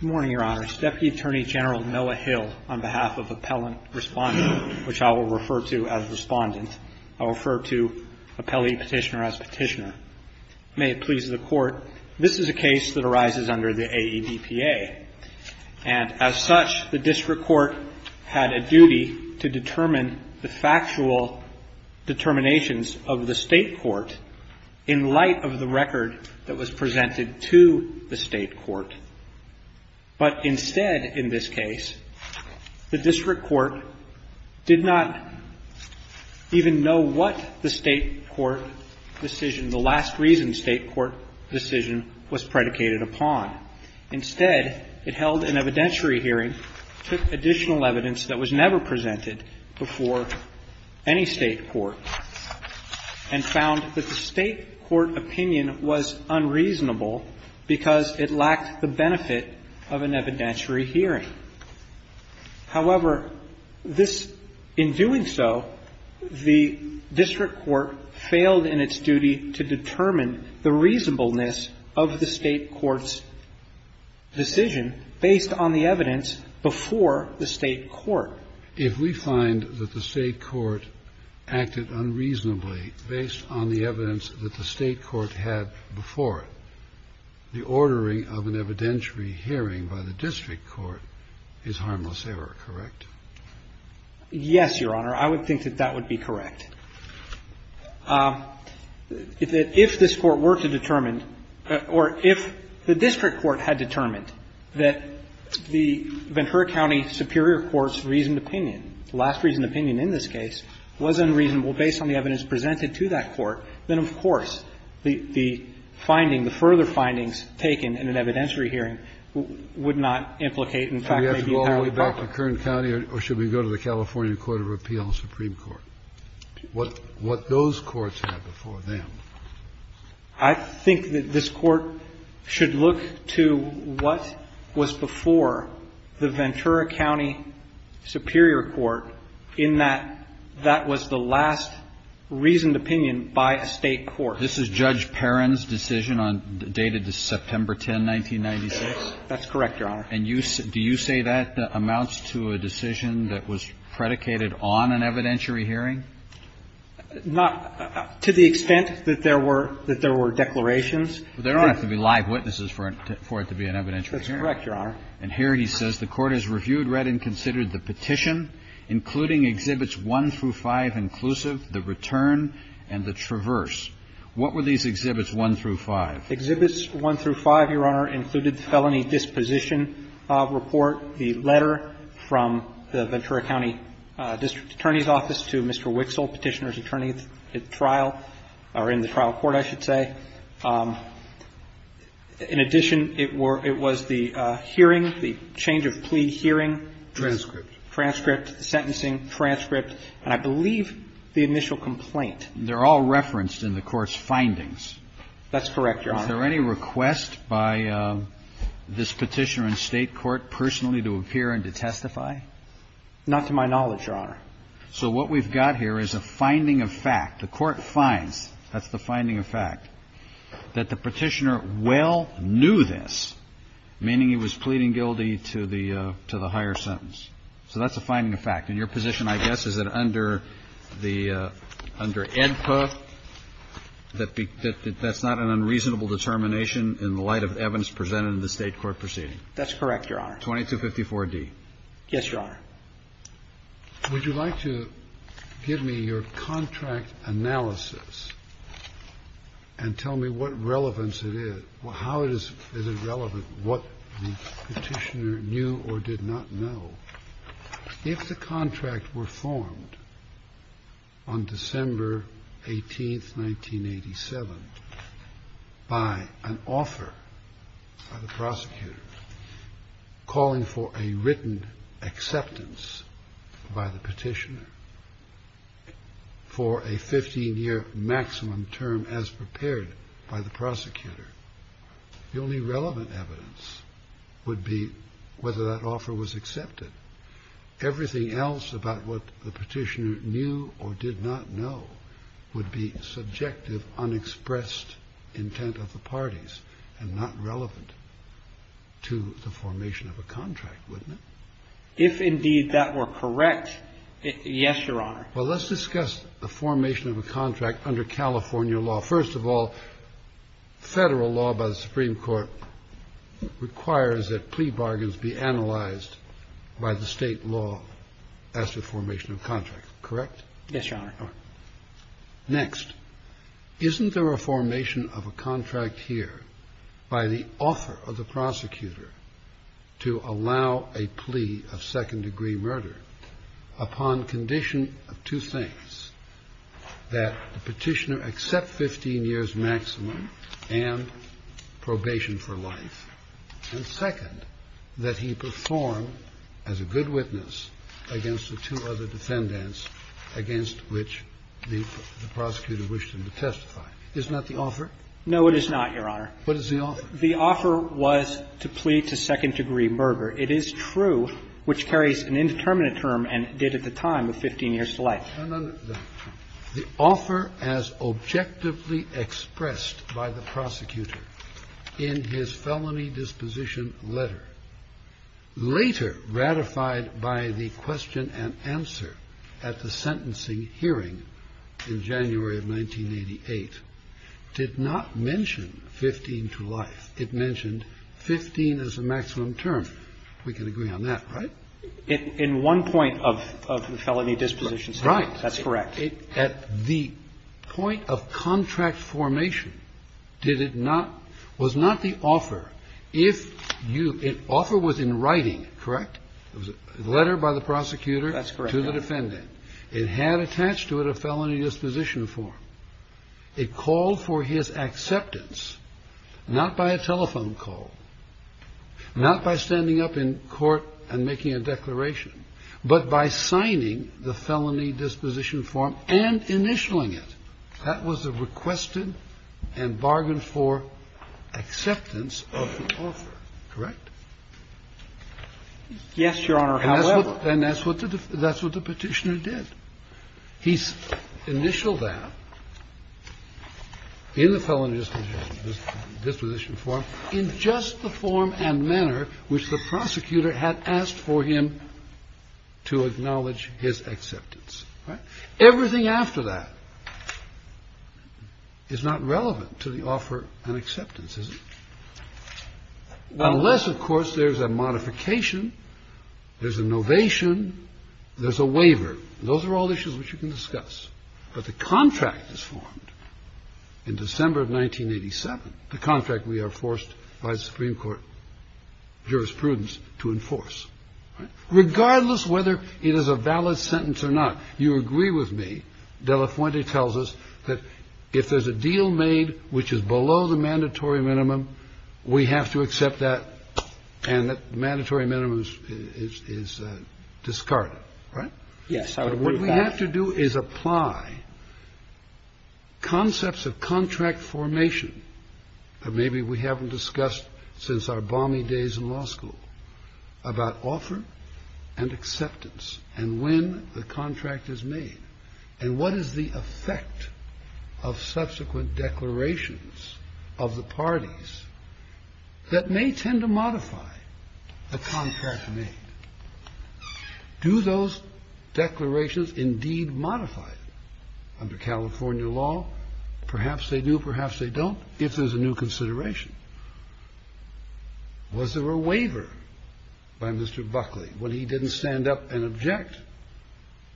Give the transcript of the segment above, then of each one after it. Good morning, Your Honors. Deputy Attorney General Noah Hill, on behalf of Appellant Respondent, which I will refer to as Respondent, I will refer to Appellee Petitioner as Petitioner. May it please the Court, this is a case that arises under the AEDPA, and as such, the District Court had a duty to determine the factual determinations of the State court in light of the record that was presented to the State court. But instead, in this case, the District Court did not even know what the State court decision, the last reason State court decision was predicated upon. Instead, it held an evidentiary hearing, took additional evidence that was never presented before any State court, and found that the State court opinion was unreasonable because it lacked the benefit of an evidentiary hearing. However, this, in doing so, the District Court failed in its duty to determine the reasonableness of the State court's decision based on the evidence before the State court. If we find that the State court acted unreasonably based on the evidence that the State court had before, the ordering of an evidentiary hearing by the District court is harmless error, correct? Yes, Your Honor. I would think that that would be correct. If this Court were to determine or if the District Court had determined that the Ventura County Superior Court's reasoned opinion, the last reasoned opinion in this case, was unreasonable based on the evidence presented to that court, then, of course, the finding, the further findings taken in an evidentiary hearing would not implicate, in fact, maybe a higher charge. Kennedy. Should we go all the way back to Kern County, or should we go to the California Court of Appeal and the Supreme Court, what those courts had before them? I think that this Court should look to what was before the Ventura County Superior Court in that that was the last reasoned opinion by a State court. This is Judge Perrin's decision on the date of September 10, 1996? That's correct, Your Honor. And do you say that amounts to a decision that was predicated on an evidentiary hearing? Not to the extent that there were declarations. But there don't have to be live witnesses for it to be an evidentiary hearing. That's correct, Your Honor. And here he says the Court has reviewed, read, and considered the petition, including Exhibits 1 through 5 inclusive, the return, and the traverse. What were these Exhibits 1 through 5? Exhibits 1 through 5, Your Honor, included the Felony Disposition Report, the letter from the Ventura County District Attorney's Office to Mr. Wixel, Petitioner's attorney at trial, or in the trial court, I should say. In addition, it was the hearing, the change of plea hearing. Transcript. Transcript, the sentencing, transcript, and I believe the initial complaint. They're all referenced in the Court's findings. That's correct, Your Honor. Is there any request by this Petitioner in State court personally to appear and to testify? Not to my knowledge, Your Honor. So what we've got here is a finding of fact. The Court finds, that's the finding of fact, that the Petitioner well knew this, meaning he was pleading guilty to the higher sentence. So that's a finding of fact. And your position, I guess, is that under the under AEDPA, that that's not an unreasonable determination in the light of evidence presented in the State court proceeding? That's correct, Your Honor. 2254d. Yes, Your Honor. Would you like to give me your contract analysis and tell me what relevance it is, how is it relevant, what the Petitioner knew or did not know? If the contract were formed on December 18th, 1987, by an offer by the prosecutor calling for a written acceptance by the Petitioner for a 15-year maximum term as prepared by the prosecutor, the only relevant evidence would be whether that offer was accepted. Everything else about what the Petitioner knew or did not know would be subjective, unexpressed intent of the parties and not relevant to the formation of a contract, wouldn't it? If indeed that were correct, yes, Your Honor. Well, let's discuss the formation of a contract under California law. First of all, federal law by the Supreme Court requires that plea bargains be analyzed by the state law as to formation of contract, correct? Yes, Your Honor. Next, isn't there a formation of a contract here by the offer of the prosecutor to allow a plea of second-degree murder upon condition of two things, first, that the Petitioner accept 15 years maximum and probation for life, and second, that he perform as a good witness against the two other defendants against which the prosecutor wished him to testify? Isn't that the offer? No, it is not, Your Honor. What is the offer? The offer was to plea to second-degree murder. It is true, which carries an indeterminate term and did at the time of 15 years to life. The offer as objectively expressed by the prosecutor in his felony disposition letter, later ratified by the question and answer at the sentencing hearing in January of 1988, did not mention 15 to life. It mentioned 15 as a maximum term. We can agree on that, right? In one point of the felony disposition statement. Right. That's correct. At the point of contract formation, did it not, was not the offer, if you, if the offer was in writing, correct, it was a letter by the prosecutor to the defendant, it had attached to it a felony disposition form, it called for his acceptance, not by a telephone call, not by standing up in court and making a declaration, but by signing the felony disposition form and initialing it. That was the requested and bargained-for acceptance of the offer, correct? Yes, Your Honor, however. And that's what the Petitioner did. He initialed that in the felony disposition form in just the form and manner which the prosecutor had asked for him to acknowledge his acceptance, right? Everything after that is not relevant to the offer and acceptance, is it? Unless, of course, there's a modification, there's a novation, there's a waiver. Those are all issues which you can discuss. But the contract is formed in December of 1987, the contract we are forced by the Supreme Court jurisprudence to enforce, right? Regardless whether it is a valid sentence or not, you agree with me, De La Fuente tells us that if there's a deal made which is below the mandatory minimum, we have to accept that and that mandatory minimum is discarded, right? Yes, I would agree with that. What we have to do is apply concepts of contract formation that maybe we haven't discussed since our balmy days in law school about offer and acceptance and when the contract is made and what is the effect of subsequent declarations of the parties that may tend to modify the contract made. Do those declarations indeed modify under California law? Perhaps they do, perhaps they don't, if there's a new consideration. Was there a waiver by Mr. Buckley when he didn't stand up and object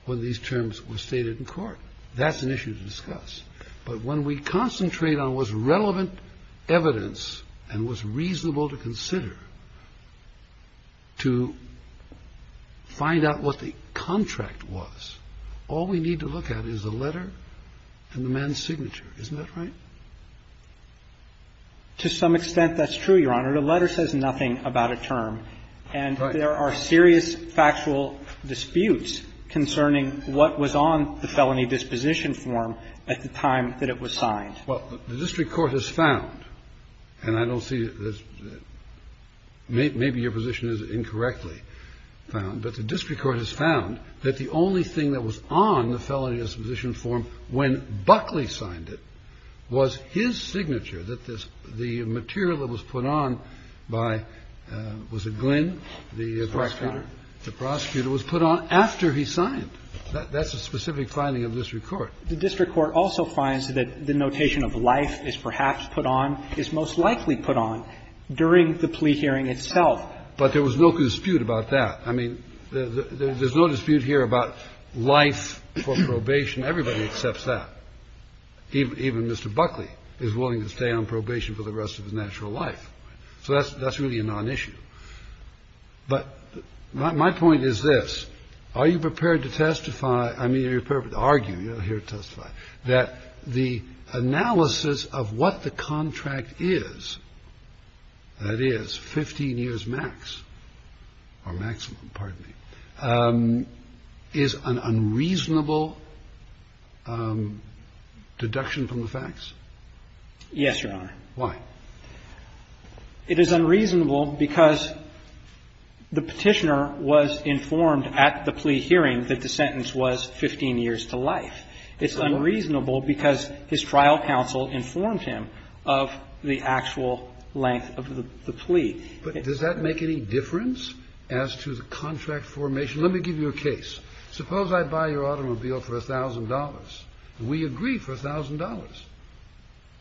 when these terms were stated in court? That's an issue to discuss. But when we concentrate on what's relevant evidence and what's reasonable to consider to find out what the contract was, all we need to look at is the letter and the man's signature, isn't that right? To some extent, that's true, Your Honor. The letter says nothing about a term and there are serious factual disputes concerning what was on the felony disposition form at the time that it was signed. Well, the district court has found, and I don't see this, maybe your position is incorrectly found, but the district court has found that the only thing that was on the felony disposition form when Buckley signed it was his signature, that the material that was put on by, was it Glynn, the prosecutor? The prosecutor was put on after he signed. That's a specific finding of the district court. The district court also finds that the notation of life is perhaps put on, is most likely put on, during the plea hearing itself. But there was no dispute about that. I mean, there's no dispute here about life for probation. Everybody accepts that. Even Mr. Buckley is willing to stay on probation for the rest of his natural life. So that's really a nonissue. But my point is this. Are you prepared to testify or are you prepared to argue? I mean, you're here to testify. That the analysis of what the contract is, that is, 15 years max, or maximum, pardon me, is an unreasonable deduction from the facts? Yes, Your Honor. Why? It is unreasonable because the Petitioner was informed at the plea hearing that the sentence was 15 years to life. It's unreasonable because his trial counsel informed him of the actual length of the plea. But does that make any difference as to the contract formation? Let me give you a case. Suppose I buy your automobile for $1,000. We agree for $1,000.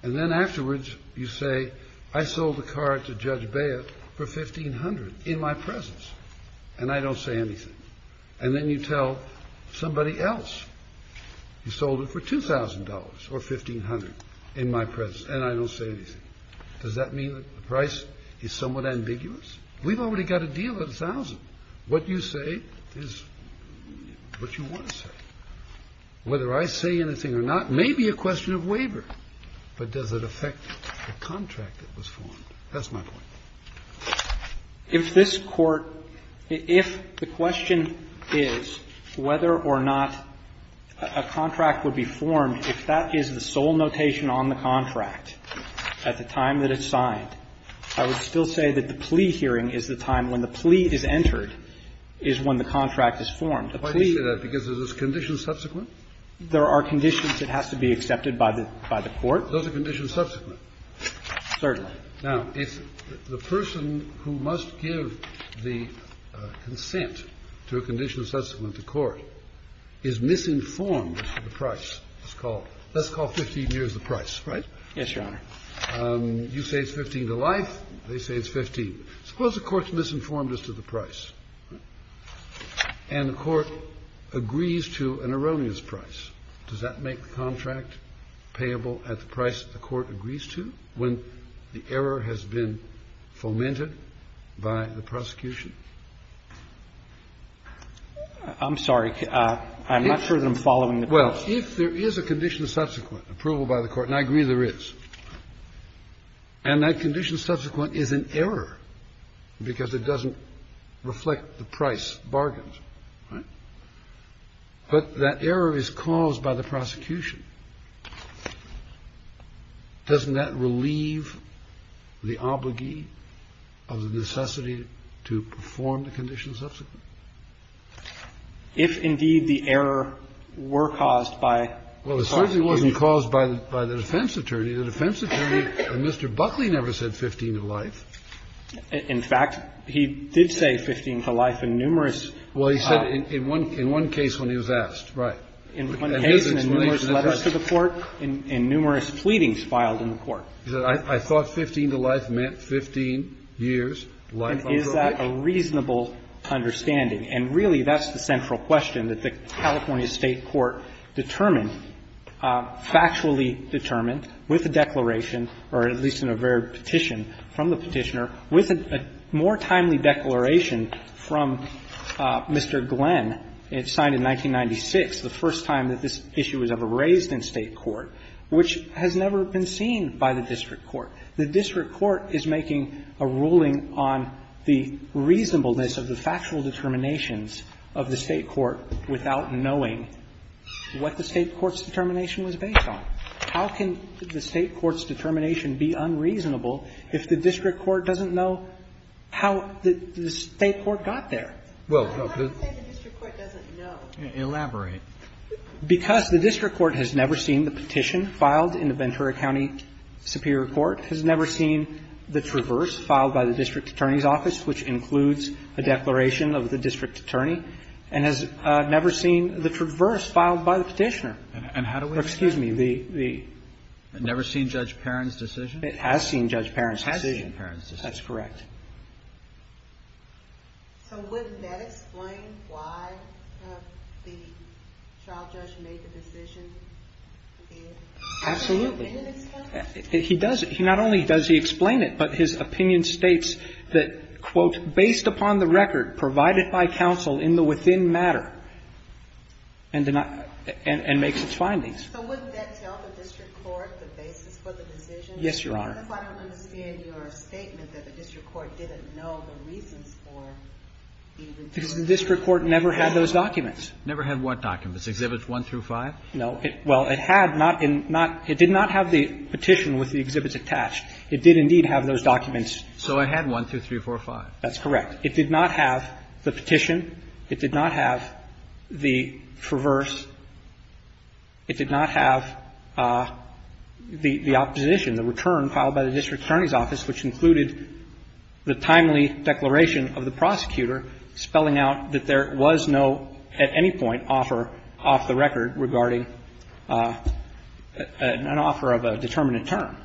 And then afterwards you say, I sold the car to Judge Bayett for 1,500 in my presence, and I don't say anything. And then you tell somebody else, you sold it for $2,000 or 1,500 in my presence, and I don't say anything. Does that mean that the price is somewhat ambiguous? We've already got a deal at 1,000. What you say is what you want to say. Whether I say anything or not may be a question of waiver, but does it affect the contract that was formed? That's my point. If this Court – if the question is whether or not a contract would be formed, if that is the sole notation on the contract at the time that it's signed, I would still say that the plea hearing is the time when the plea is entered, is when the contract is formed. A plea – Why do you say that? Because are those conditions subsequent? There are conditions that have to be accepted by the Court. Those are conditions subsequent? Certainly. Now, if the person who must give the consent to a condition subsequent to court is misinformed as to the price, let's call 15 years the price, right? Yes, Your Honor. You say it's 15 to life. They say it's 15. Suppose the Court's misinformed as to the price, and the Court agrees to an erroneous price. Does that make the contract payable at the price that the Court agrees to? When the error has been fomented by the prosecution. I'm sorry. I'm not sure that I'm following the question. Well, if there is a condition subsequent approval by the Court, and I agree there is, and that condition subsequent is an error because it doesn't reflect the price bargains, right, but that error is caused by the prosecution, doesn't that relate to the fact that the prosecution has to leave the obligee of the necessity to perform the condition subsequent? If, indeed, the error were caused by the prosecution. Well, it certainly wasn't caused by the defense attorney. The defense attorney, Mr. Buckley, never said 15 to life. In fact, he did say 15 to life in numerous. Well, he said in one case when he was asked, right. In one case and in numerous letters to the Court and numerous pleadings filed in the Court. He said, I thought 15 to life meant 15 years' life on probation. Is that a reasonable understanding? And really, that's the central question that the California State Court determined, factually determined with a declaration, or at least in a varied petition from the Petitioner, with a more timely declaration from Mr. Glenn, signed in 1996, the first time that this issue was ever raised in State court, which has never been seen by the district court. The district court is making a ruling on the reasonableness of the factual determinations of the State court without knowing what the State court's determination was based on. How can the State court's determination be unreasonable if the district court doesn't know how the State court got there? Well, the the district court doesn't know. Elaborate. Because the district court has never seen the petition filed in the Ventura County Superior Court, has never seen the traverse filed by the district attorney's office, which includes a declaration of the district attorney, and has never seen the traverse filed by the Petitioner. And how do we? Excuse me, the, the. Never seen Judge Perron's decision? It has seen Judge Perron's decision. It has seen Perron's decision. That's correct. in this case? He does, he not only does he explain it, but his opinion states that, quote, based upon the record provided by counsel in the within matter, and, and makes its findings. So wouldn't that tell the district court the basis for the decision? Yes, Your Honor. That's why I don't understand your statement that the district court didn't know the reasons for the decision. Because the district court never had those documents. Never had what documents? Exhibits one through five? No. Well, it, well, it had not, not, it did not have the petition with the exhibits attached. It did indeed have those documents. So it had one, two, three, four, five. That's correct. It did not have the petition. It did not have the traverse. It did not have the, the opposition, the return filed by the district attorney's office, which included the timely declaration of the prosecutor spelling out that there was no, at any point, offer off the record regarding an offer of a determinant term.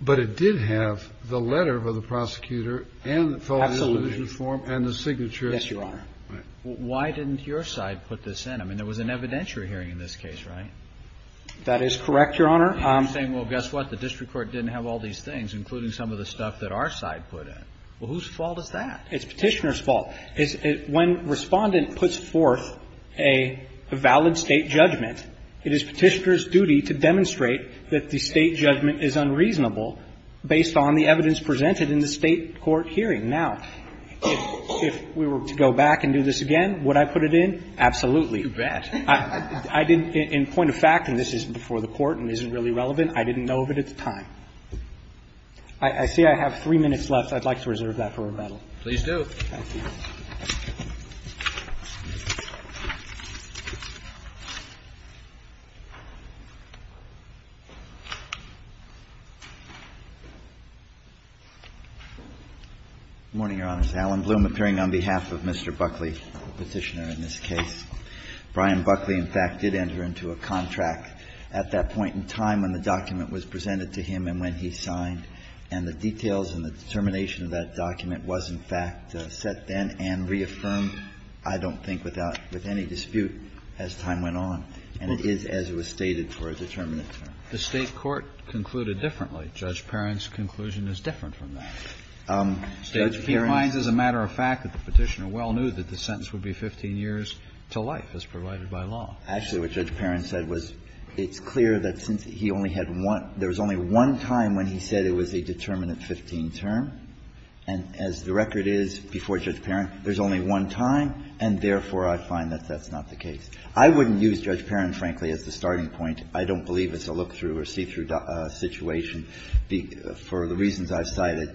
But it did have the letter of the prosecutor and the felon's delusion form and the signature. Yes, Your Honor. Why didn't your side put this in? I mean, there was an evidentiary hearing in this case, right? That is correct, Your Honor. I'm saying, well, guess what, the district court didn't have all these things, including some of the stuff that our side put in. Well, whose fault is that? It's Petitioner's fault. When Respondent puts forth a valid State judgment, it is Petitioner's duty to demonstrate that the State judgment is unreasonable based on the evidence presented in the State court hearing. Now, if we were to go back and do this again, would I put it in? Absolutely. You bet. I didn't, in point of fact, and this is before the Court and isn't really relevant, I didn't know of it at the time. I see I have three minutes left. I'd like to reserve that for rebuttal. Please do. Good morning, Your Honors. Alan Bloom appearing on behalf of Mr. Buckley, the Petitioner in this case. Brian Buckley, in fact, did enter into a contract at that point in time when the document was presented to him and when he signed, and the details and the determination of that document was, in fact, set then and reaffirmed, I don't think, without any dispute as time went on, and it is as it was stated for a determinate term. The State court concluded differently. Judge Perrin's conclusion is different from that. He finds as a matter of fact that the Petitioner well knew that the sentence would be 15 years to life as provided by law. Actually, what Judge Perrin said was, it's clear that since he only had one – there was only one time when he said it was a determinate 15 term. And as the record is before Judge Perrin, there's only one time, and therefore, I find that that's not the case. I wouldn't use Judge Perrin, frankly, as the starting point. I don't believe it's a look-through or see-through situation for the reasons I've cited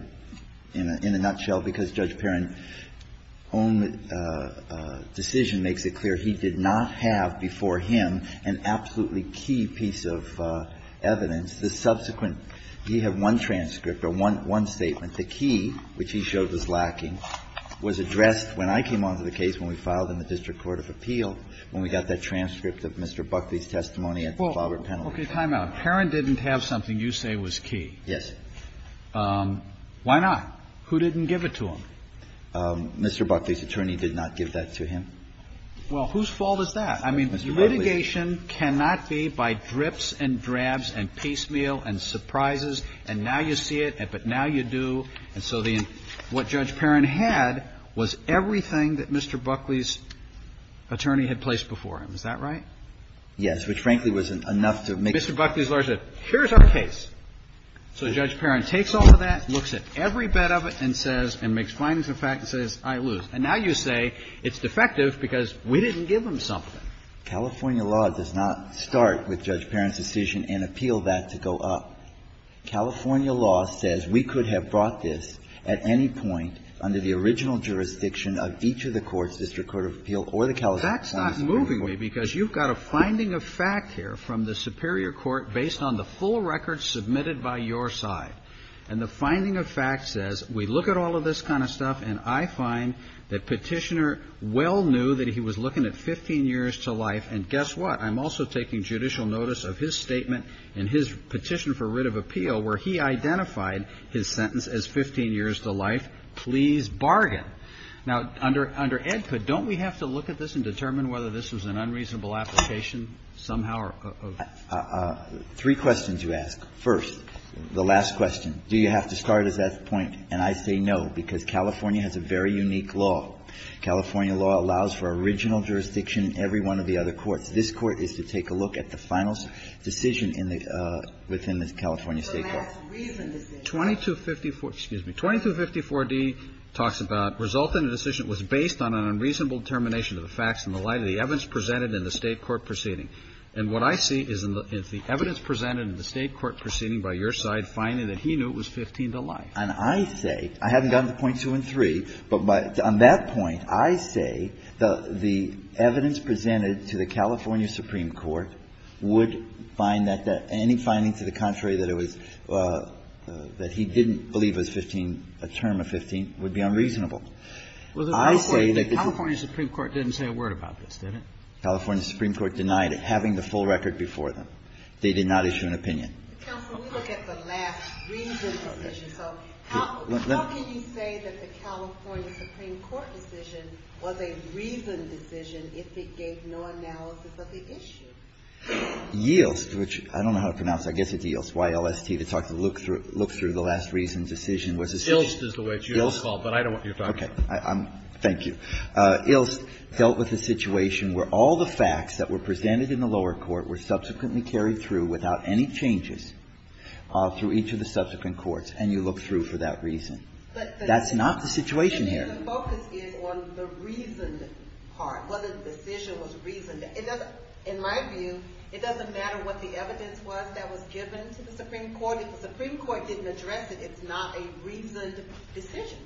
in a nutshell, because Judge Perrin's own decision makes it clear he did not have before him an absolutely key piece of evidence, the subsequent – he had one transcript, or one statement. The key, which he showed was lacking, was addressed when I came on to the case when we filed in the District Court of Appeal, when we got that transcript of Mr. Buckley's testimony at the Faulkner Penalty. Well, okay, time out. Perrin didn't have something you say was key. Yes. Why not? Who didn't give it to him? Mr. Buckley's attorney did not give that to him. Well, whose fault is that? I mean, litigation cannot be by drips and drabs and piecemeal and surprises, and now you see it, but now you do, and so the – what Judge Perrin had was everything that Mr. Buckley's attorney had placed before him. Is that right? Yes, which, frankly, was enough to make it clear. Mr. Buckley's lawyer said, here's our case. So Judge Perrin takes all of that, looks at every bit of it, and says – and makes findings of fact and says, I lose. And now you say it's defective because we didn't give him something. California law does not start with Judge Perrin's decision and appeal that to go up. California law says we could have brought this at any point under the original jurisdiction of each of the courts, District Court of Appeal or the California Supreme Court. That's not moving me, because you've got a finding of fact here from the superior court based on the full record submitted by your side. And the finding of fact says, we look at all of this kind of stuff, and I find that Petitioner well knew that he was looking at 15 years to life, and guess what? I'm also taking judicial notice of his statement in his Petition for Writ of Appeal where he identified his sentence as 15 years to life. Please bargain. Now, under EDCA, don't we have to look at this and determine whether this was an unreasonable application somehow or other? Three questions you ask. First, the last question, do you have to start at that point? And I say no, because California has a very unique law. California law allows for original jurisdiction in every one of the other courts. This Court is to take a look at the final decision in the – within the California State court. 2254 – excuse me – 2254d talks about result in a decision that was based on an unreasonable determination of the facts in the light of the evidence presented in the State court proceeding. And what I see is the evidence presented in the State court proceeding by your side finding that he knew it was 15 to life. And I say – I haven't gotten to point two and three, but on that point, I say the evidence presented to the California Supreme Court would find that any finding to the contrary that it was – that he didn't believe it was 15, a term of 15, would be unreasonable. I say that the – The California Supreme Court didn't say a word about this, did it? The California Supreme Court denied it having the full record before them. They did not issue an opinion. Counsel, we look at the last reasoned decision. So how can you say that the California Supreme Court decision was a reasoned decision if it gave no analysis of the issue? Yielst, which I don't know how to pronounce. I guess it's Yielst, Y-L-S-T. It's hard to look through – look through the last reasoned decision. Yielst is the way it's spelled, but I don't know what you're talking about. Okay. Thank you. Yielst dealt with a situation where all the facts that were presented in the lower court were subsequently carried through without any changes through each of the subsequent courts, and you look through for that reason. That's not the situation here. The focus is on the reasoned part, whether the decision was reasoned. In my view, it doesn't matter what the evidence was that was given to the Supreme Court. If the Supreme Court didn't address it, it's not a reasoned decision.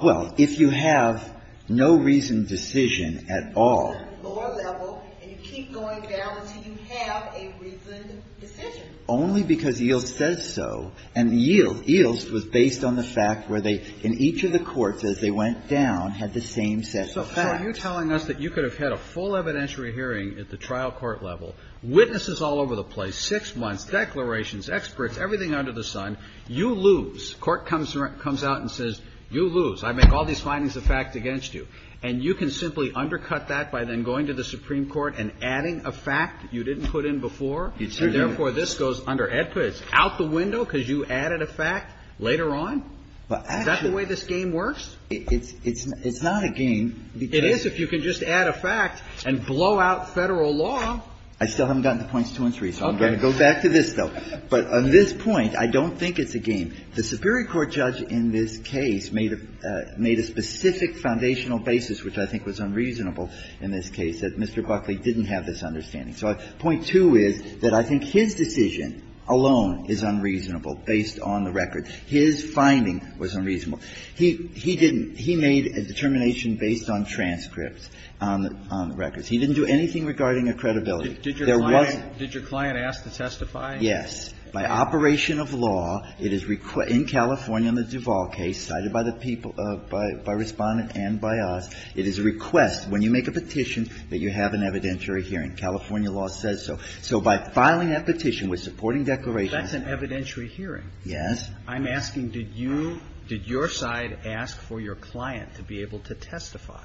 Well, if you have no reasoned decision at all – Lower level, and you keep going down until you have a reasoned decision. Only because Yielst says so, and Yielst was based on the fact where they – in each of the courts, as they went down, had the same set of facts. So are you telling us that you could have had a full evidentiary hearing at the trial court level, witnesses all over the place, six months, declarations, experts, everything under the sun, you lose. Court comes out and says, you lose. I make all these findings of fact against you. And you can simply undercut that by then going to the Supreme Court and adding a fact you didn't put in before? You'd say yes. And, therefore, this goes under EDPA. It's out the window because you added a fact later on? Is that the way this game works? It's not a game. It is if you can just add a fact and blow out Federal law. I still haven't gotten to points two and three, so I'm going to go back to this, though. But on this point, I don't think it's a game. The Supreme Court judge in this case made a specific foundational basis, which I think was unreasonable in this case, that Mr. Buckley didn't have this understanding. So point two is that I think his decision alone is unreasonable based on the record. His finding was unreasonable. He didn't – he made a determination based on transcripts, on the records. He didn't do anything regarding a credibility. There was no question. Did your client ask to testify? Yes. By operation of law, it is in California in the Duval case, cited by the people – by Respondent and by us, it is a request, when you make a petition, that you have an evidentiary hearing. California law says so. So by filing that petition with supporting declarations – That's an evidentiary hearing. Yes. I'm asking, did you – did your side ask for your client to be able to testify?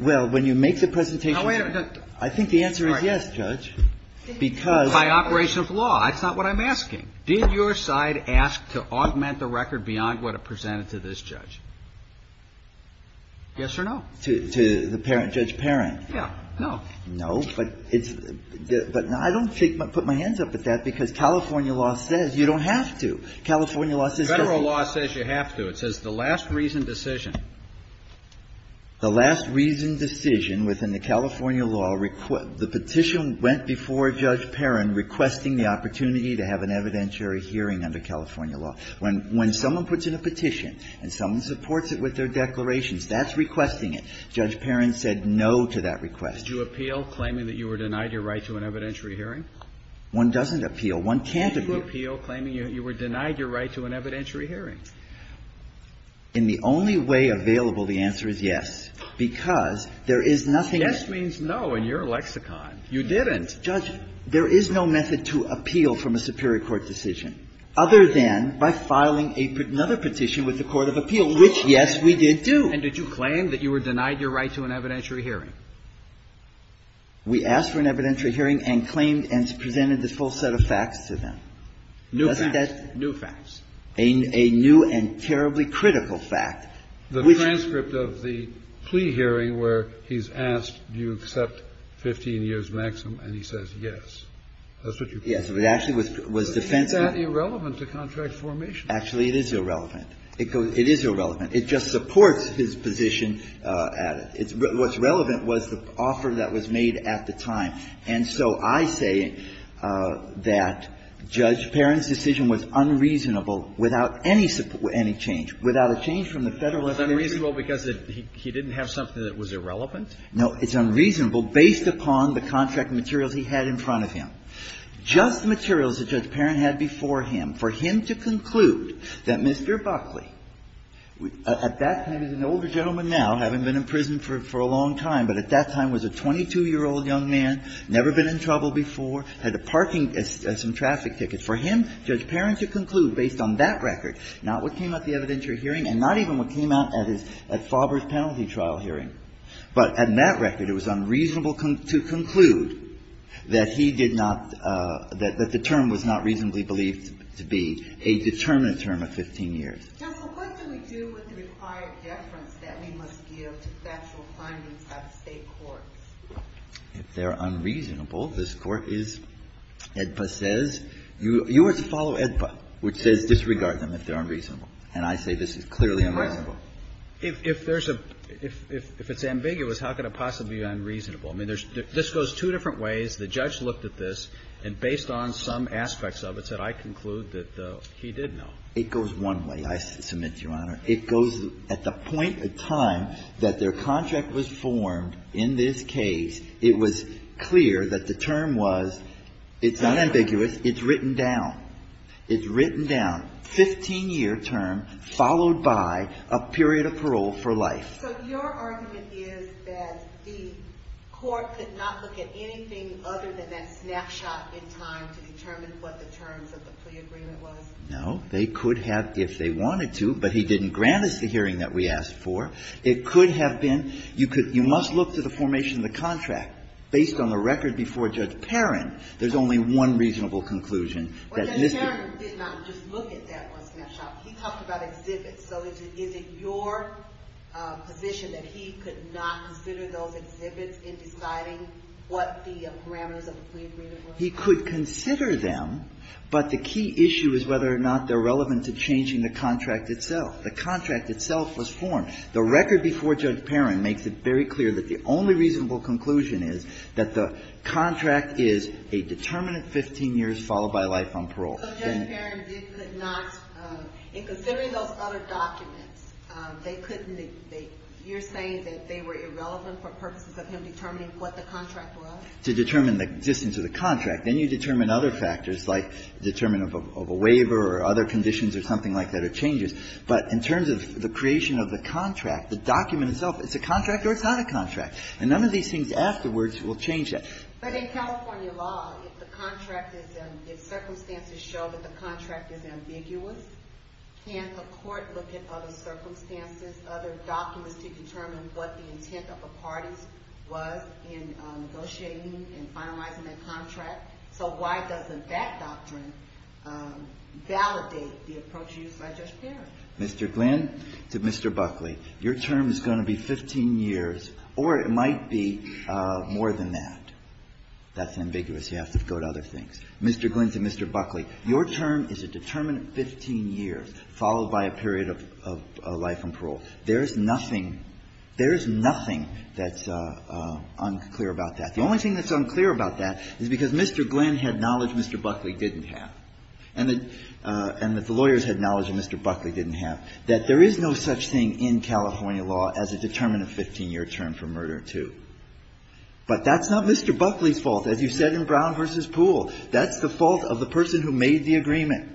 Well, when you make the presentation – No, wait a minute. I think the answer is yes, Judge, because – By operation of law. That's not what I'm asking. Did your side ask to augment the record beyond what it presented to this judge? Yes or no? To the parent – Judge Parent? Yeah. No. No, but it's – but I don't shake – put my hands up at that, because California law says you don't have to. California law says you don't have to. Federal law says you have to. It says the last reasoned decision. The last reasoned decision within the California law – the petition went before Judge Parent requesting the opportunity to have an evidentiary hearing under California law. When someone puts in a petition and someone supports it with their declarations, that's requesting it. Judge Parent said no to that request. Did you appeal, claiming that you were denied your right to an evidentiary hearing? One doesn't appeal. One can't appeal. Did you appeal, claiming you were denied your right to an evidentiary hearing? In the only way available, the answer is yes, because there is nothing – Yes means no in your lexicon. You didn't. Judge, there is no method to appeal from a superior court decision, other than by filing a – another petition with the court of appeal, which, yes, we did do. And did you claim that you were denied your right to an evidentiary hearing? We asked for an evidentiary hearing and claimed and presented the full set of facts to them. New facts. New facts. A new and terribly critical fact. The transcript of the plea hearing where he's asked, do you accept 15 years maximum, and he says yes. That's what you claim. Yes. It actually was defensive. Isn't that irrelevant to contract formation? Actually, it is irrelevant. It is irrelevant. It just supports his position at it. What's relevant was the offer that was made at the time. And so I say that Judge Parent's decision was unreasonable without any change, without a change from the Federalist Commission. It was unreasonable because he didn't have something that was irrelevant? No. It's unreasonable based upon the contract materials he had in front of him. Just the materials that Judge Parent had before him for him to conclude that Mr. Buckley, at that time, he's an older gentleman now, having been in prison for a long time, but at that time was a 22-year-old young man, never been in trouble before, had a parking and some traffic tickets. For him, Judge Parent to conclude based on that record, not what came out of the evidentiary hearing and not even what came out at his at Faubourg's penalty trial hearing, but on that record, it was unreasonable to conclude that he did not – that the term was not reasonably believed to be a determinate term of 15 years. Counsel, what do we do with the required deference that we must give to factual findings of State courts? If they're unreasonable, this Court is – EDPA says – you ought to follow EDPA, which says disregard them if they're unreasonable. And I say this is clearly unreasonable. If there's a – if it's ambiguous, how could it possibly be unreasonable? I mean, there's – this goes two different ways. The judge looked at this, and based on some aspects of it said, I conclude that he did know. It goes one way. I submit to Your Honor, it goes – at the point in time that their contract was formed in this case, it was clear that the term was – it's not ambiguous, it's written down. It's written down. Fifteen-year term followed by a period of parole for life. So your argument is that the court could not look at anything other than that snapshot in time to determine what the terms of the plea agreement was? No. They could have if they wanted to, but he didn't grant us the hearing that we asked for. It could have been – you could – you must look to the formation of the contract. Based on the record before Judge Perrin, there's only one reasonable conclusion that this could be. But Judge Perrin did not just look at that one snapshot. He talked about exhibits. So is it your position that he could not consider those exhibits in deciding what the parameters of the plea agreement were? He could consider them, but the key issue is whether or not they're relevant to changing the contract itself. The contract itself was formed. The record before Judge Perrin makes it very clear that the only reasonable conclusion is that the contract is a determinant 15 years followed by life on parole. So Judge Perrin did not – in considering those other documents, they couldn't – you're saying that they were irrelevant for purposes of him determining what the contract was? To determine the existence of the contract. Then you determine other factors, like determinant of a waiver or other conditions or something like that or changes. But in terms of the creation of the contract, the document itself, it's a contract or it's not a contract. And none of these things afterwards will change that. But in California law, if the contract is – if circumstances show that the contract is ambiguous, can't a court look at other circumstances, other documents to determine what the intent of the parties was in negotiating and finalizing that contract? So why doesn't that doctrine validate the approach used by Judge Perrin? Mr. Glynn to Mr. Buckley, your term is going to be 15 years or it might be more than that. That's ambiguous. You have to go to other things. Mr. Glynn to Mr. Buckley, your term is a determinant 15 years followed by a period of life on parole. There is nothing – there is nothing that's unclear about that. The only thing that's unclear about that is because Mr. Glynn had knowledge Mr. Buckley didn't have and that the lawyers had knowledge that Mr. Buckley didn't have, that there is no such thing in California law as a determinant 15-year term for murder too. But that's not Mr. Buckley's fault. As you said in Brown v. Poole, that's the fault of the person who made the agreement.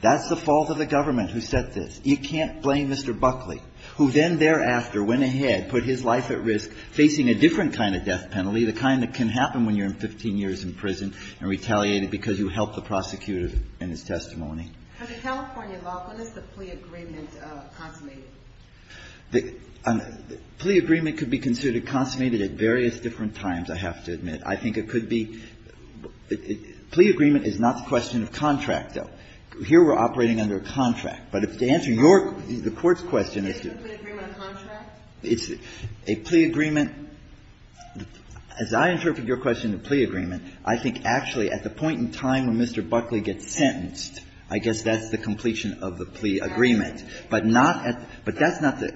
That's the fault of the government who said this. You can't blame Mr. Buckley. Who then thereafter went ahead, put his life at risk, facing a different kind of death penalty, the kind that can happen when you're in 15 years in prison and retaliated because you helped the prosecutor in his testimony. But in California law, when is the plea agreement consummated? The plea agreement could be considered consummated at various different times, I have to admit. I think it could be – plea agreement is not the question of contract, though. Here we're operating under a contract. But if the answer to your – the Court's question is to – It's a plea agreement contract? It's a plea agreement – as I interpret your question, a plea agreement, I think actually at the point in time when Mr. Buckley gets sentenced, I guess that's the completion of the plea agreement. But not at – but that's not the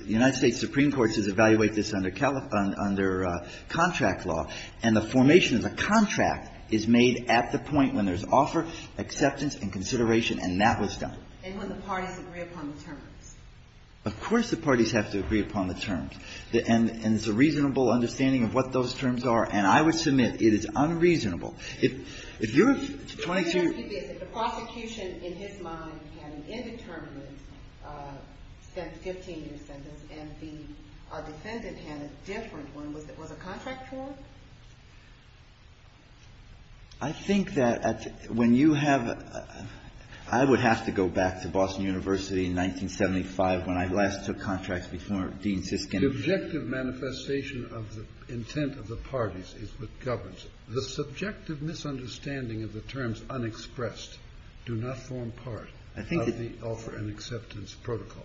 – the United States Supreme Court does evaluate this under contract law. And the formation of the contract is made at the point when there's offer, acceptance and consideration, and that was done. And when the parties agree upon the terms. Of course the parties have to agree upon the terms. And it's a reasonable understanding of what those terms are. And I would submit it is unreasonable. If you're 22 years – The thing is, if the prosecution in his mind had an indeterminate 15-year sentence and the defendant had a different one, was it – was it contractual? I think that when you have – I would have to go back to Boston University in 1975 when I last took contracts before Dean Siskin. The objective manifestation of the intent of the parties is what governs it. The subjective misunderstanding of the terms unexpressed do not form part of the offer and acceptance protocol.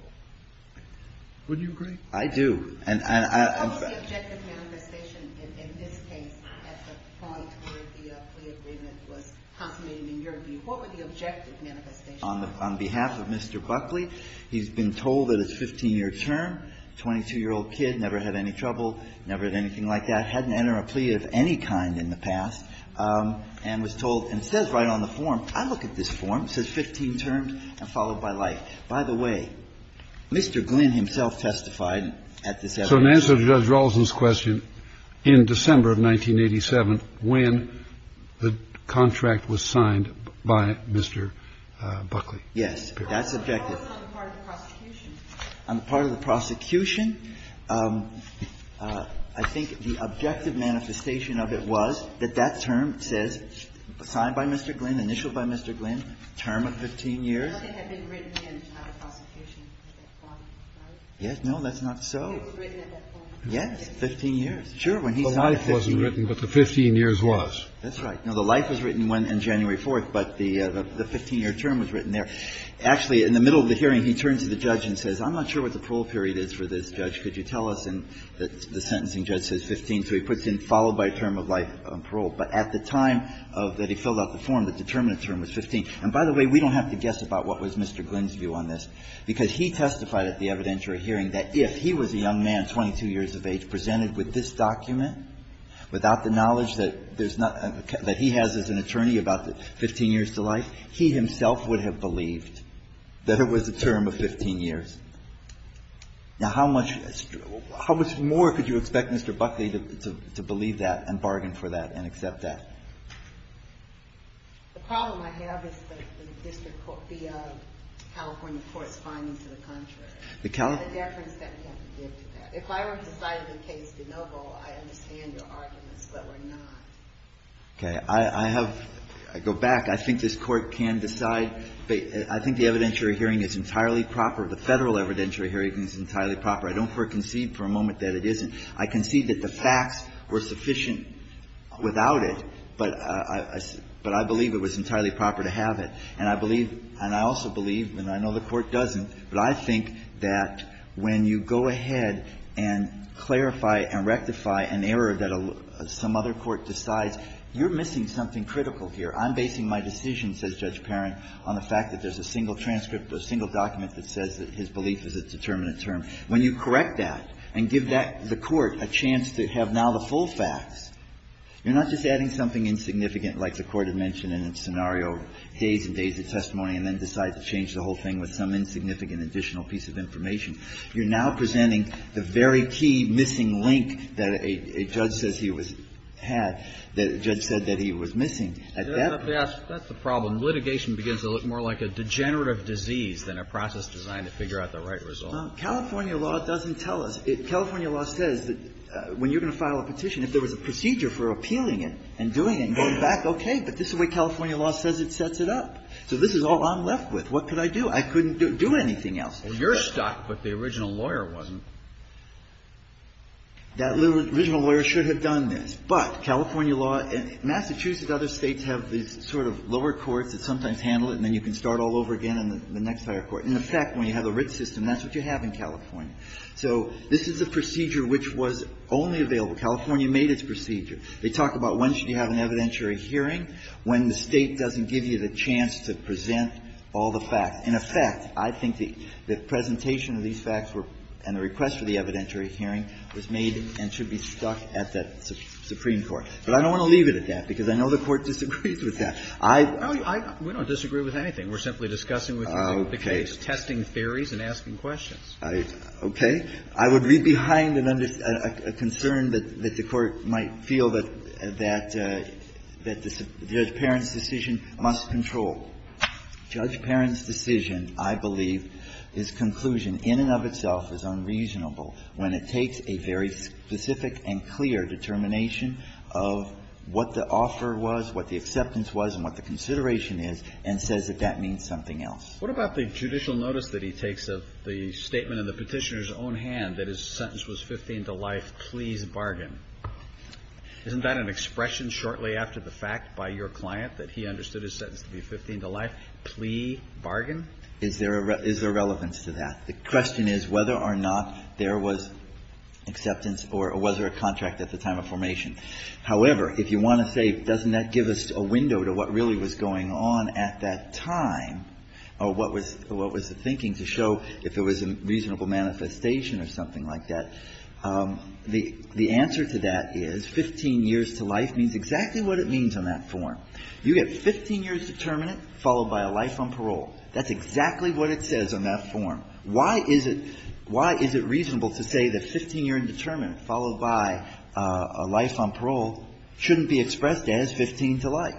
Would you agree? I do. And I – I'm sorry. What was the objective manifestation in this case at the point where the plea agreement was consummated in your view? What were the objective manifestations? On behalf of Mr. Buckley, he's been told that his 15-year term, 22-year-old kid, never had any trouble, never had anything like that, hadn't entered a plea of any kind in the past, and was told – and it says right on the form, I look at this form, it says 15 terms and followed by life. By the way, Mr. Glynn himself testified at this evidence hearing. So in answer to Judge Rawlinson's question, in December of 1987, when the contract was signed by Mr. Buckley. Yes. That's objective. On the part of the prosecution, I think the objective manifestation of it was that that term says, signed by Mr. Glynn, initialed by Mr. Glynn, term of 15 years. Nothing had been written in the prosecution. Right? Yes. No, that's not so. It was written at that point. 15 years. Sure. When he signed it, 15 years. The life wasn't written, but the 15 years was. That's right. No, the life was written on January 4th, but the 15-year term was written there. Actually, in the middle of the hearing, he turns to the judge and says, I'm not sure what the parole period is for this judge. Could you tell us? And the sentencing judge says 15, so he puts in followed by term of life on parole. But at the time of – that he filled out the form, the determinant term was 15. And by the way, we don't have to guess about what was Mr. Glynn's view on this, because he testified at the evidentiary hearing that if he was a young man, 22 years of age, presented with this document, without the knowledge that there's not – that he has as an attorney about the 15 years to life, he himself would have believed that it was a term of 15 years. Now, how much – how much more could you expect Mr. Buckley to believe that and bargain for that and accept that? The problem I have is the district court, the California court's findings to the contrary. The California – And the deference that we have to give to that. If I were to decide the case de novo, I understand your arguments, but we're not. Okay. I have – I go back. I think this Court can decide. I think the evidentiary hearing is entirely proper. The Federal evidentiary hearing is entirely proper. I don't concede for a moment that it isn't. I concede that the facts were sufficient without it, but I believe it was entirely proper to have it, and I believe – and I also believe, and I know the Court doesn't, but I think that when you go ahead and clarify and rectify an error that some other court decides, you're missing something critical here. I'm basing my decision, says Judge Perrin, on the fact that there's a single transcript, a single document that says that his belief is a determinate term. When you correct that and give that – the Court a chance to have now the full facts, you're not just adding something insignificant, like the Court had mentioned in its scenario days and days of testimony and then decide to change the whole thing with some insignificant additional piece of information. You're now presenting the very key missing link that a judge says he was – had that a judge said that he was missing. That's the problem. Litigation begins to look more like a degenerative disease than a process designed to figure out the right result. California law doesn't tell us. California law says that when you're going to file a petition, if there was a procedure for appealing it and doing it and going back, okay, but this is the way California law says it sets it up. So this is all I'm left with. What could I do? I couldn't do anything else. Alito, but the original lawyer wasn't. That original lawyer should have done this. But California law – Massachusetts and other States have these sort of lower courts that sometimes handle it, and then you can start all over again in the next higher court. In effect, when you have a writ system, that's what you have in California. So this is a procedure which was only available – California made its procedure. They talk about when should you have an evidentiary hearing, when the State doesn't give you the chance to present all the facts. In effect, I think the presentation of these facts were – and the request for the evidentiary hearing was made and should be stuck at the Supreme Court. But I don't want to leave it at that, because I know the Court disagrees with that. I – We don't disagree with anything. We're simply discussing with you the case. We're just testing theories and asking questions. I – okay. I would leave behind a concern that the Court might feel that the judge parent's decision must control. Judge parent's decision, I believe, is conclusion in and of itself is unreasonable when it takes a very specific and clear determination of what the offer was, what the acceptance was, and what the consideration is, and says that that means something else. What about the judicial notice that he takes of the statement in the petitioner's own hand that his sentence was 15 to life, please bargain? Isn't that an expression shortly after the fact by your client that he understood his sentence to be 15 to life, please bargain? Is there – is there relevance to that? The question is whether or not there was acceptance or was there a contract at the time of formation. However, if you want to say, doesn't that give us a window to what really was going on at that time or what was – what was the thinking to show if there was a reasonable manifestation or something like that, the answer to that is 15 years to life means exactly what it means on that form. You get 15 years determinant followed by a life on parole. That's exactly what it says on that form. Why is it – why is it reasonable to say that 15-year indeterminant followed by a life on parole shouldn't be expressed as 15 to life?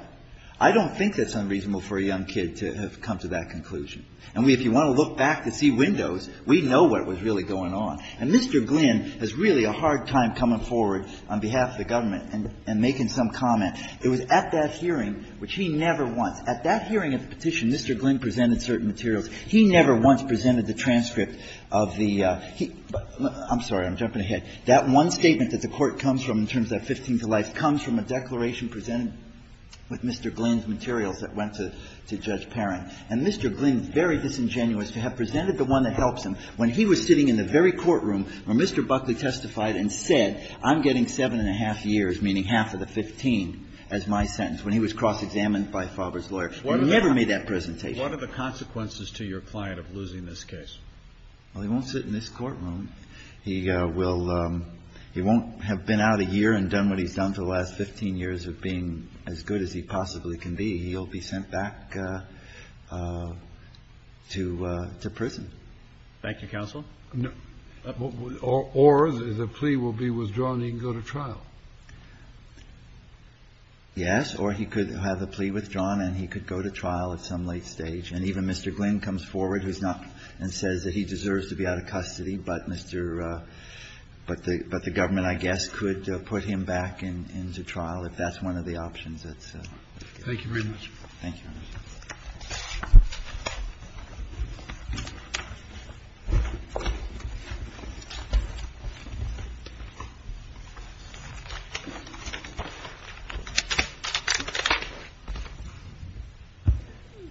I don't think that's unreasonable for a young kid to have come to that conclusion. And we – if you want to look back to see windows, we know what was really going on. And Mr. Glynn has really a hard time coming forward on behalf of the government and making some comment. It was at that hearing, which he never once – at that hearing of the petition, Mr. Glynn presented certain materials. He never once presented the transcript of the – I'm sorry. I'm jumping ahead. That one statement that the Court comes from in terms of that 15 to life comes from a declaration presented with Mr. Glynn's materials that went to – to Judge Perrin. And Mr. Glynn is very disingenuous to have presented the one that helps him when he was sitting in the very courtroom where Mr. Buckley testified and said, I'm getting 7-1⁄2 years, meaning half of the 15 as my sentence, when he was cross-examined by Fauber's lawyer. He never made that presentation. Kennedy. What are the consequences to your client of losing this case? Verrilli, Jr. Well, he won't sit in this courtroom. He will – he won't have been out a year and done what he's done for the last 15 years of being as good as he possibly can be. He'll be sent back to prison. Thank you, counsel. Or the plea will be withdrawn and he can go to trial. Yes, or he could have the plea withdrawn and he could go to trial at some late stage. And even Mr. Glynn comes forward, who's not – and says that he deserves to be out of custody, but Mr. – but the – but the government, I guess, could put him back into trial if that's one of the options that's given. Thank you very much. Thank you.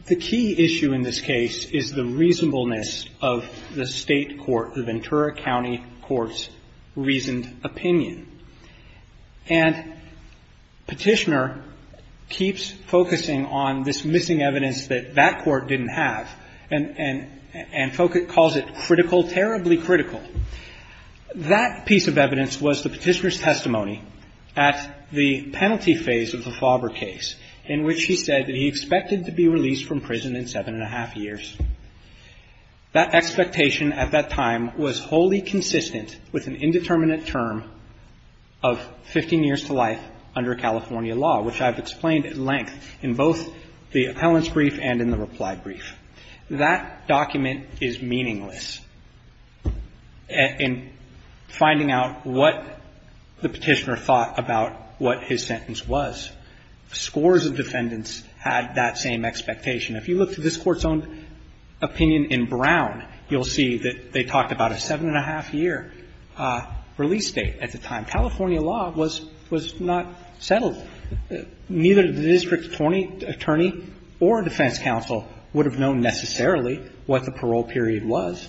The key issue in this case is the reasonableness of the state court, the Ventura County Court's reasoned opinion. And Petitioner keeps focusing on this missing evidence that that court didn't have and focus – calls it critical, terribly critical. That piece of evidence was the Petitioner's testimony at the penalty phase of the Fauber case in which he said that he expected to be released from prison in seven and a half years. That expectation at that time was wholly consistent with an indeterminate term of 15 years to life under California law, which I've explained at length in both the appellant's brief and in the reply brief. That document is meaningless in finding out what the Petitioner thought about what his sentence was. Scores of defendants had that same expectation. If you look to this Court's own opinion in Brown, you'll see that they talked about a seven and a half year release date at the time. California law was – was not settled. Neither the district attorney or defense counsel would have known necessarily what the parole period was.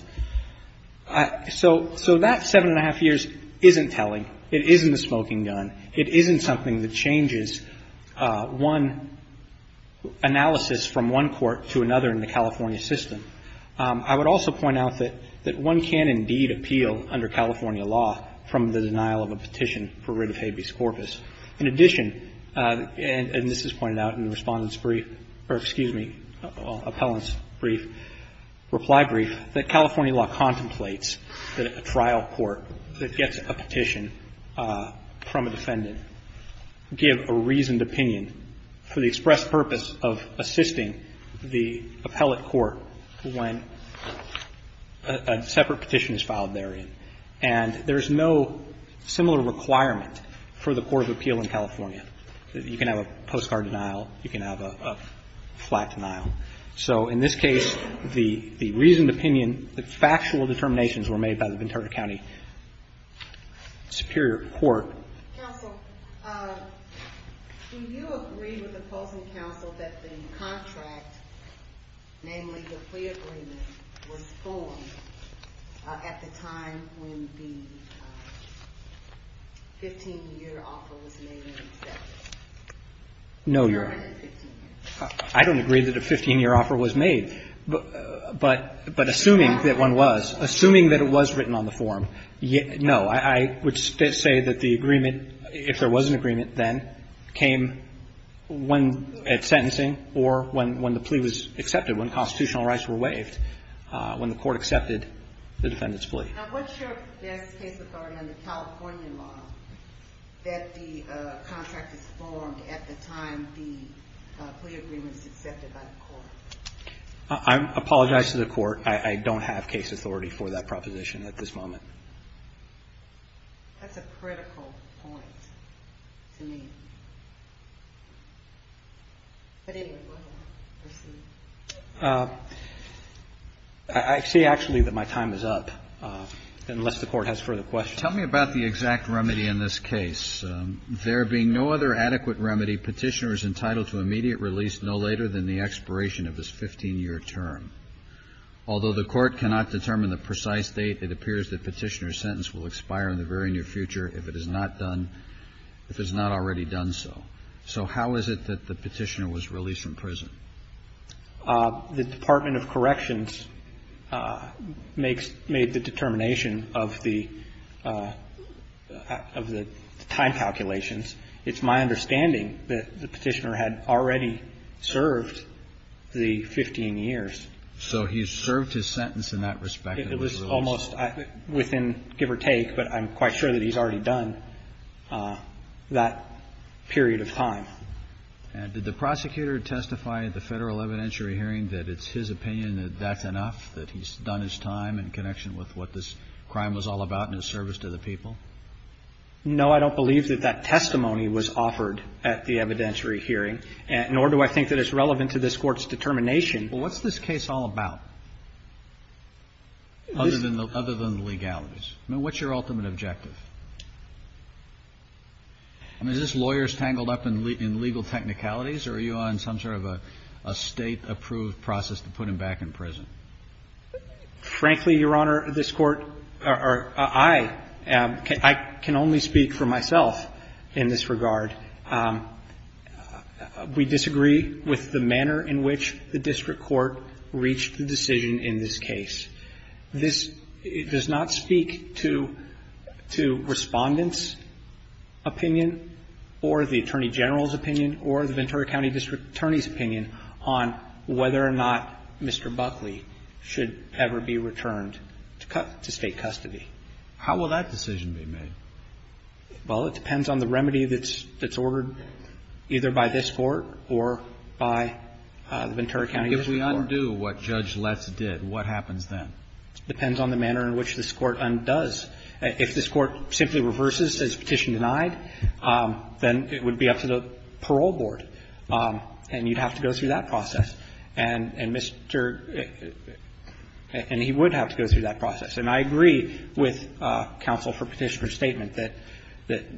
So that seven and a half years isn't telling. It isn't a smoking gun. It isn't something that changes one analysis from one court to another in the California system. I would also point out that one can indeed appeal under California law from the denial of a petition for writ of habeas corpus. In addition, and this is pointed out in the Respondent's brief, or excuse me, Appellant's brief, reply brief, that California law contemplates that a trial court that gets a petition from a defendant give a reasoned opinion for the express purpose of assisting the appellate court when a separate petition is filed therein. And there's no similar requirement for the court of appeal in California. You can have a postcard denial. You can have a flat denial. So in this case, the reasoned opinion, the factual determinations were made by the Ventura County Superior Court. Counsel, do you agree with the opposing counsel that the contract, namely the plea agreement, was formed at the time when the 15-year offer was made and accepted? No, Your Honor. I don't agree that a 15-year offer was made. But assuming that one was, assuming that it was written on the form, no. I would say that the agreement, if there was an agreement then, came when at sentencing or when the plea was accepted, when constitutional rights were waived, when the court accepted the defendant's plea. Now, what's your best case authority under California law that the contract is formed at the time the plea agreement is accepted by the court? I apologize to the court. I don't have case authority for that proposition at this moment. That's a critical point to me. But anyway, go ahead. I see, actually, that my time is up, unless the court has further questions. Tell me about the exact remedy in this case. There being no other adequate remedy, petitioner is entitled to immediate release no later than the expiration of his 15-year term. Although the court cannot determine the precise date, it appears that petitioner's sentence will expire in the very near future if it is not done, if it's not already done so. So how is it that the petitioner was released from prison? The Department of Corrections makes, made the determination of the, of the time calculations. It's my understanding that the petitioner had already served the 15 years. So he served his sentence in that respect. It was almost within give or take, but I'm quite sure that he's already done that period of time. Did the prosecutor testify at the federal evidentiary hearing that it's his opinion that that's enough, that he's done his time in connection with what this crime was all about in his service to the people? No, I don't believe that that testimony was offered at the evidentiary hearing, nor do I think that it's relevant to this court's determination. Well, what's this case all about, other than the legalities? I mean, what's your ultimate objective? I mean, is this lawyers tangled up in legal technicalities, or are you on some sort of a State-approved process to put him back in prison? Frankly, Your Honor, this Court, or I, I can only speak for myself in this regard. We disagree with the manner in which the district court reached the decision in this case. This does not speak to Respondent's opinion or the Attorney General's opinion or the Ventura County District Attorney's opinion on whether or not Mr. Buckley should ever be returned to State custody. How will that decision be made? Well, it depends on the remedy that's ordered either by this Court or by the Ventura County District Court. If we undo what Judge Letts did, what happens then? Depends on the manner in which this Court undoes. If this Court simply reverses, says petition denied, then it would be up to the parole board, and you'd have to go through that process. And Mr. And he would have to go through that process. And I agree with Counsel for Petitioner's statement that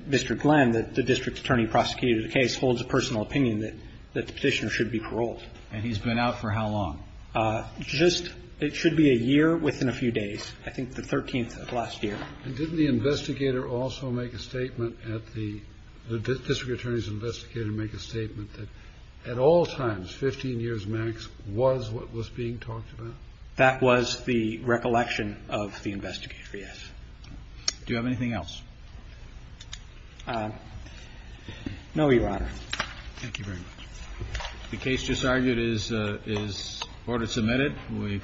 Mr. Glenn, the district attorney prosecuting the case, holds a personal opinion that the petitioner should be paroled. And he's been out for how long? Just, it should be a year within a few days. I think the 13th of last year. And didn't the investigator also make a statement at the, the district attorney's investigator make a statement that at all times, 15 years max, was what was being talked about? That was the recollection of the investigator, yes. Do you have anything else? No, Your Honor. Thank you very much. The case just argued is, is order submitted.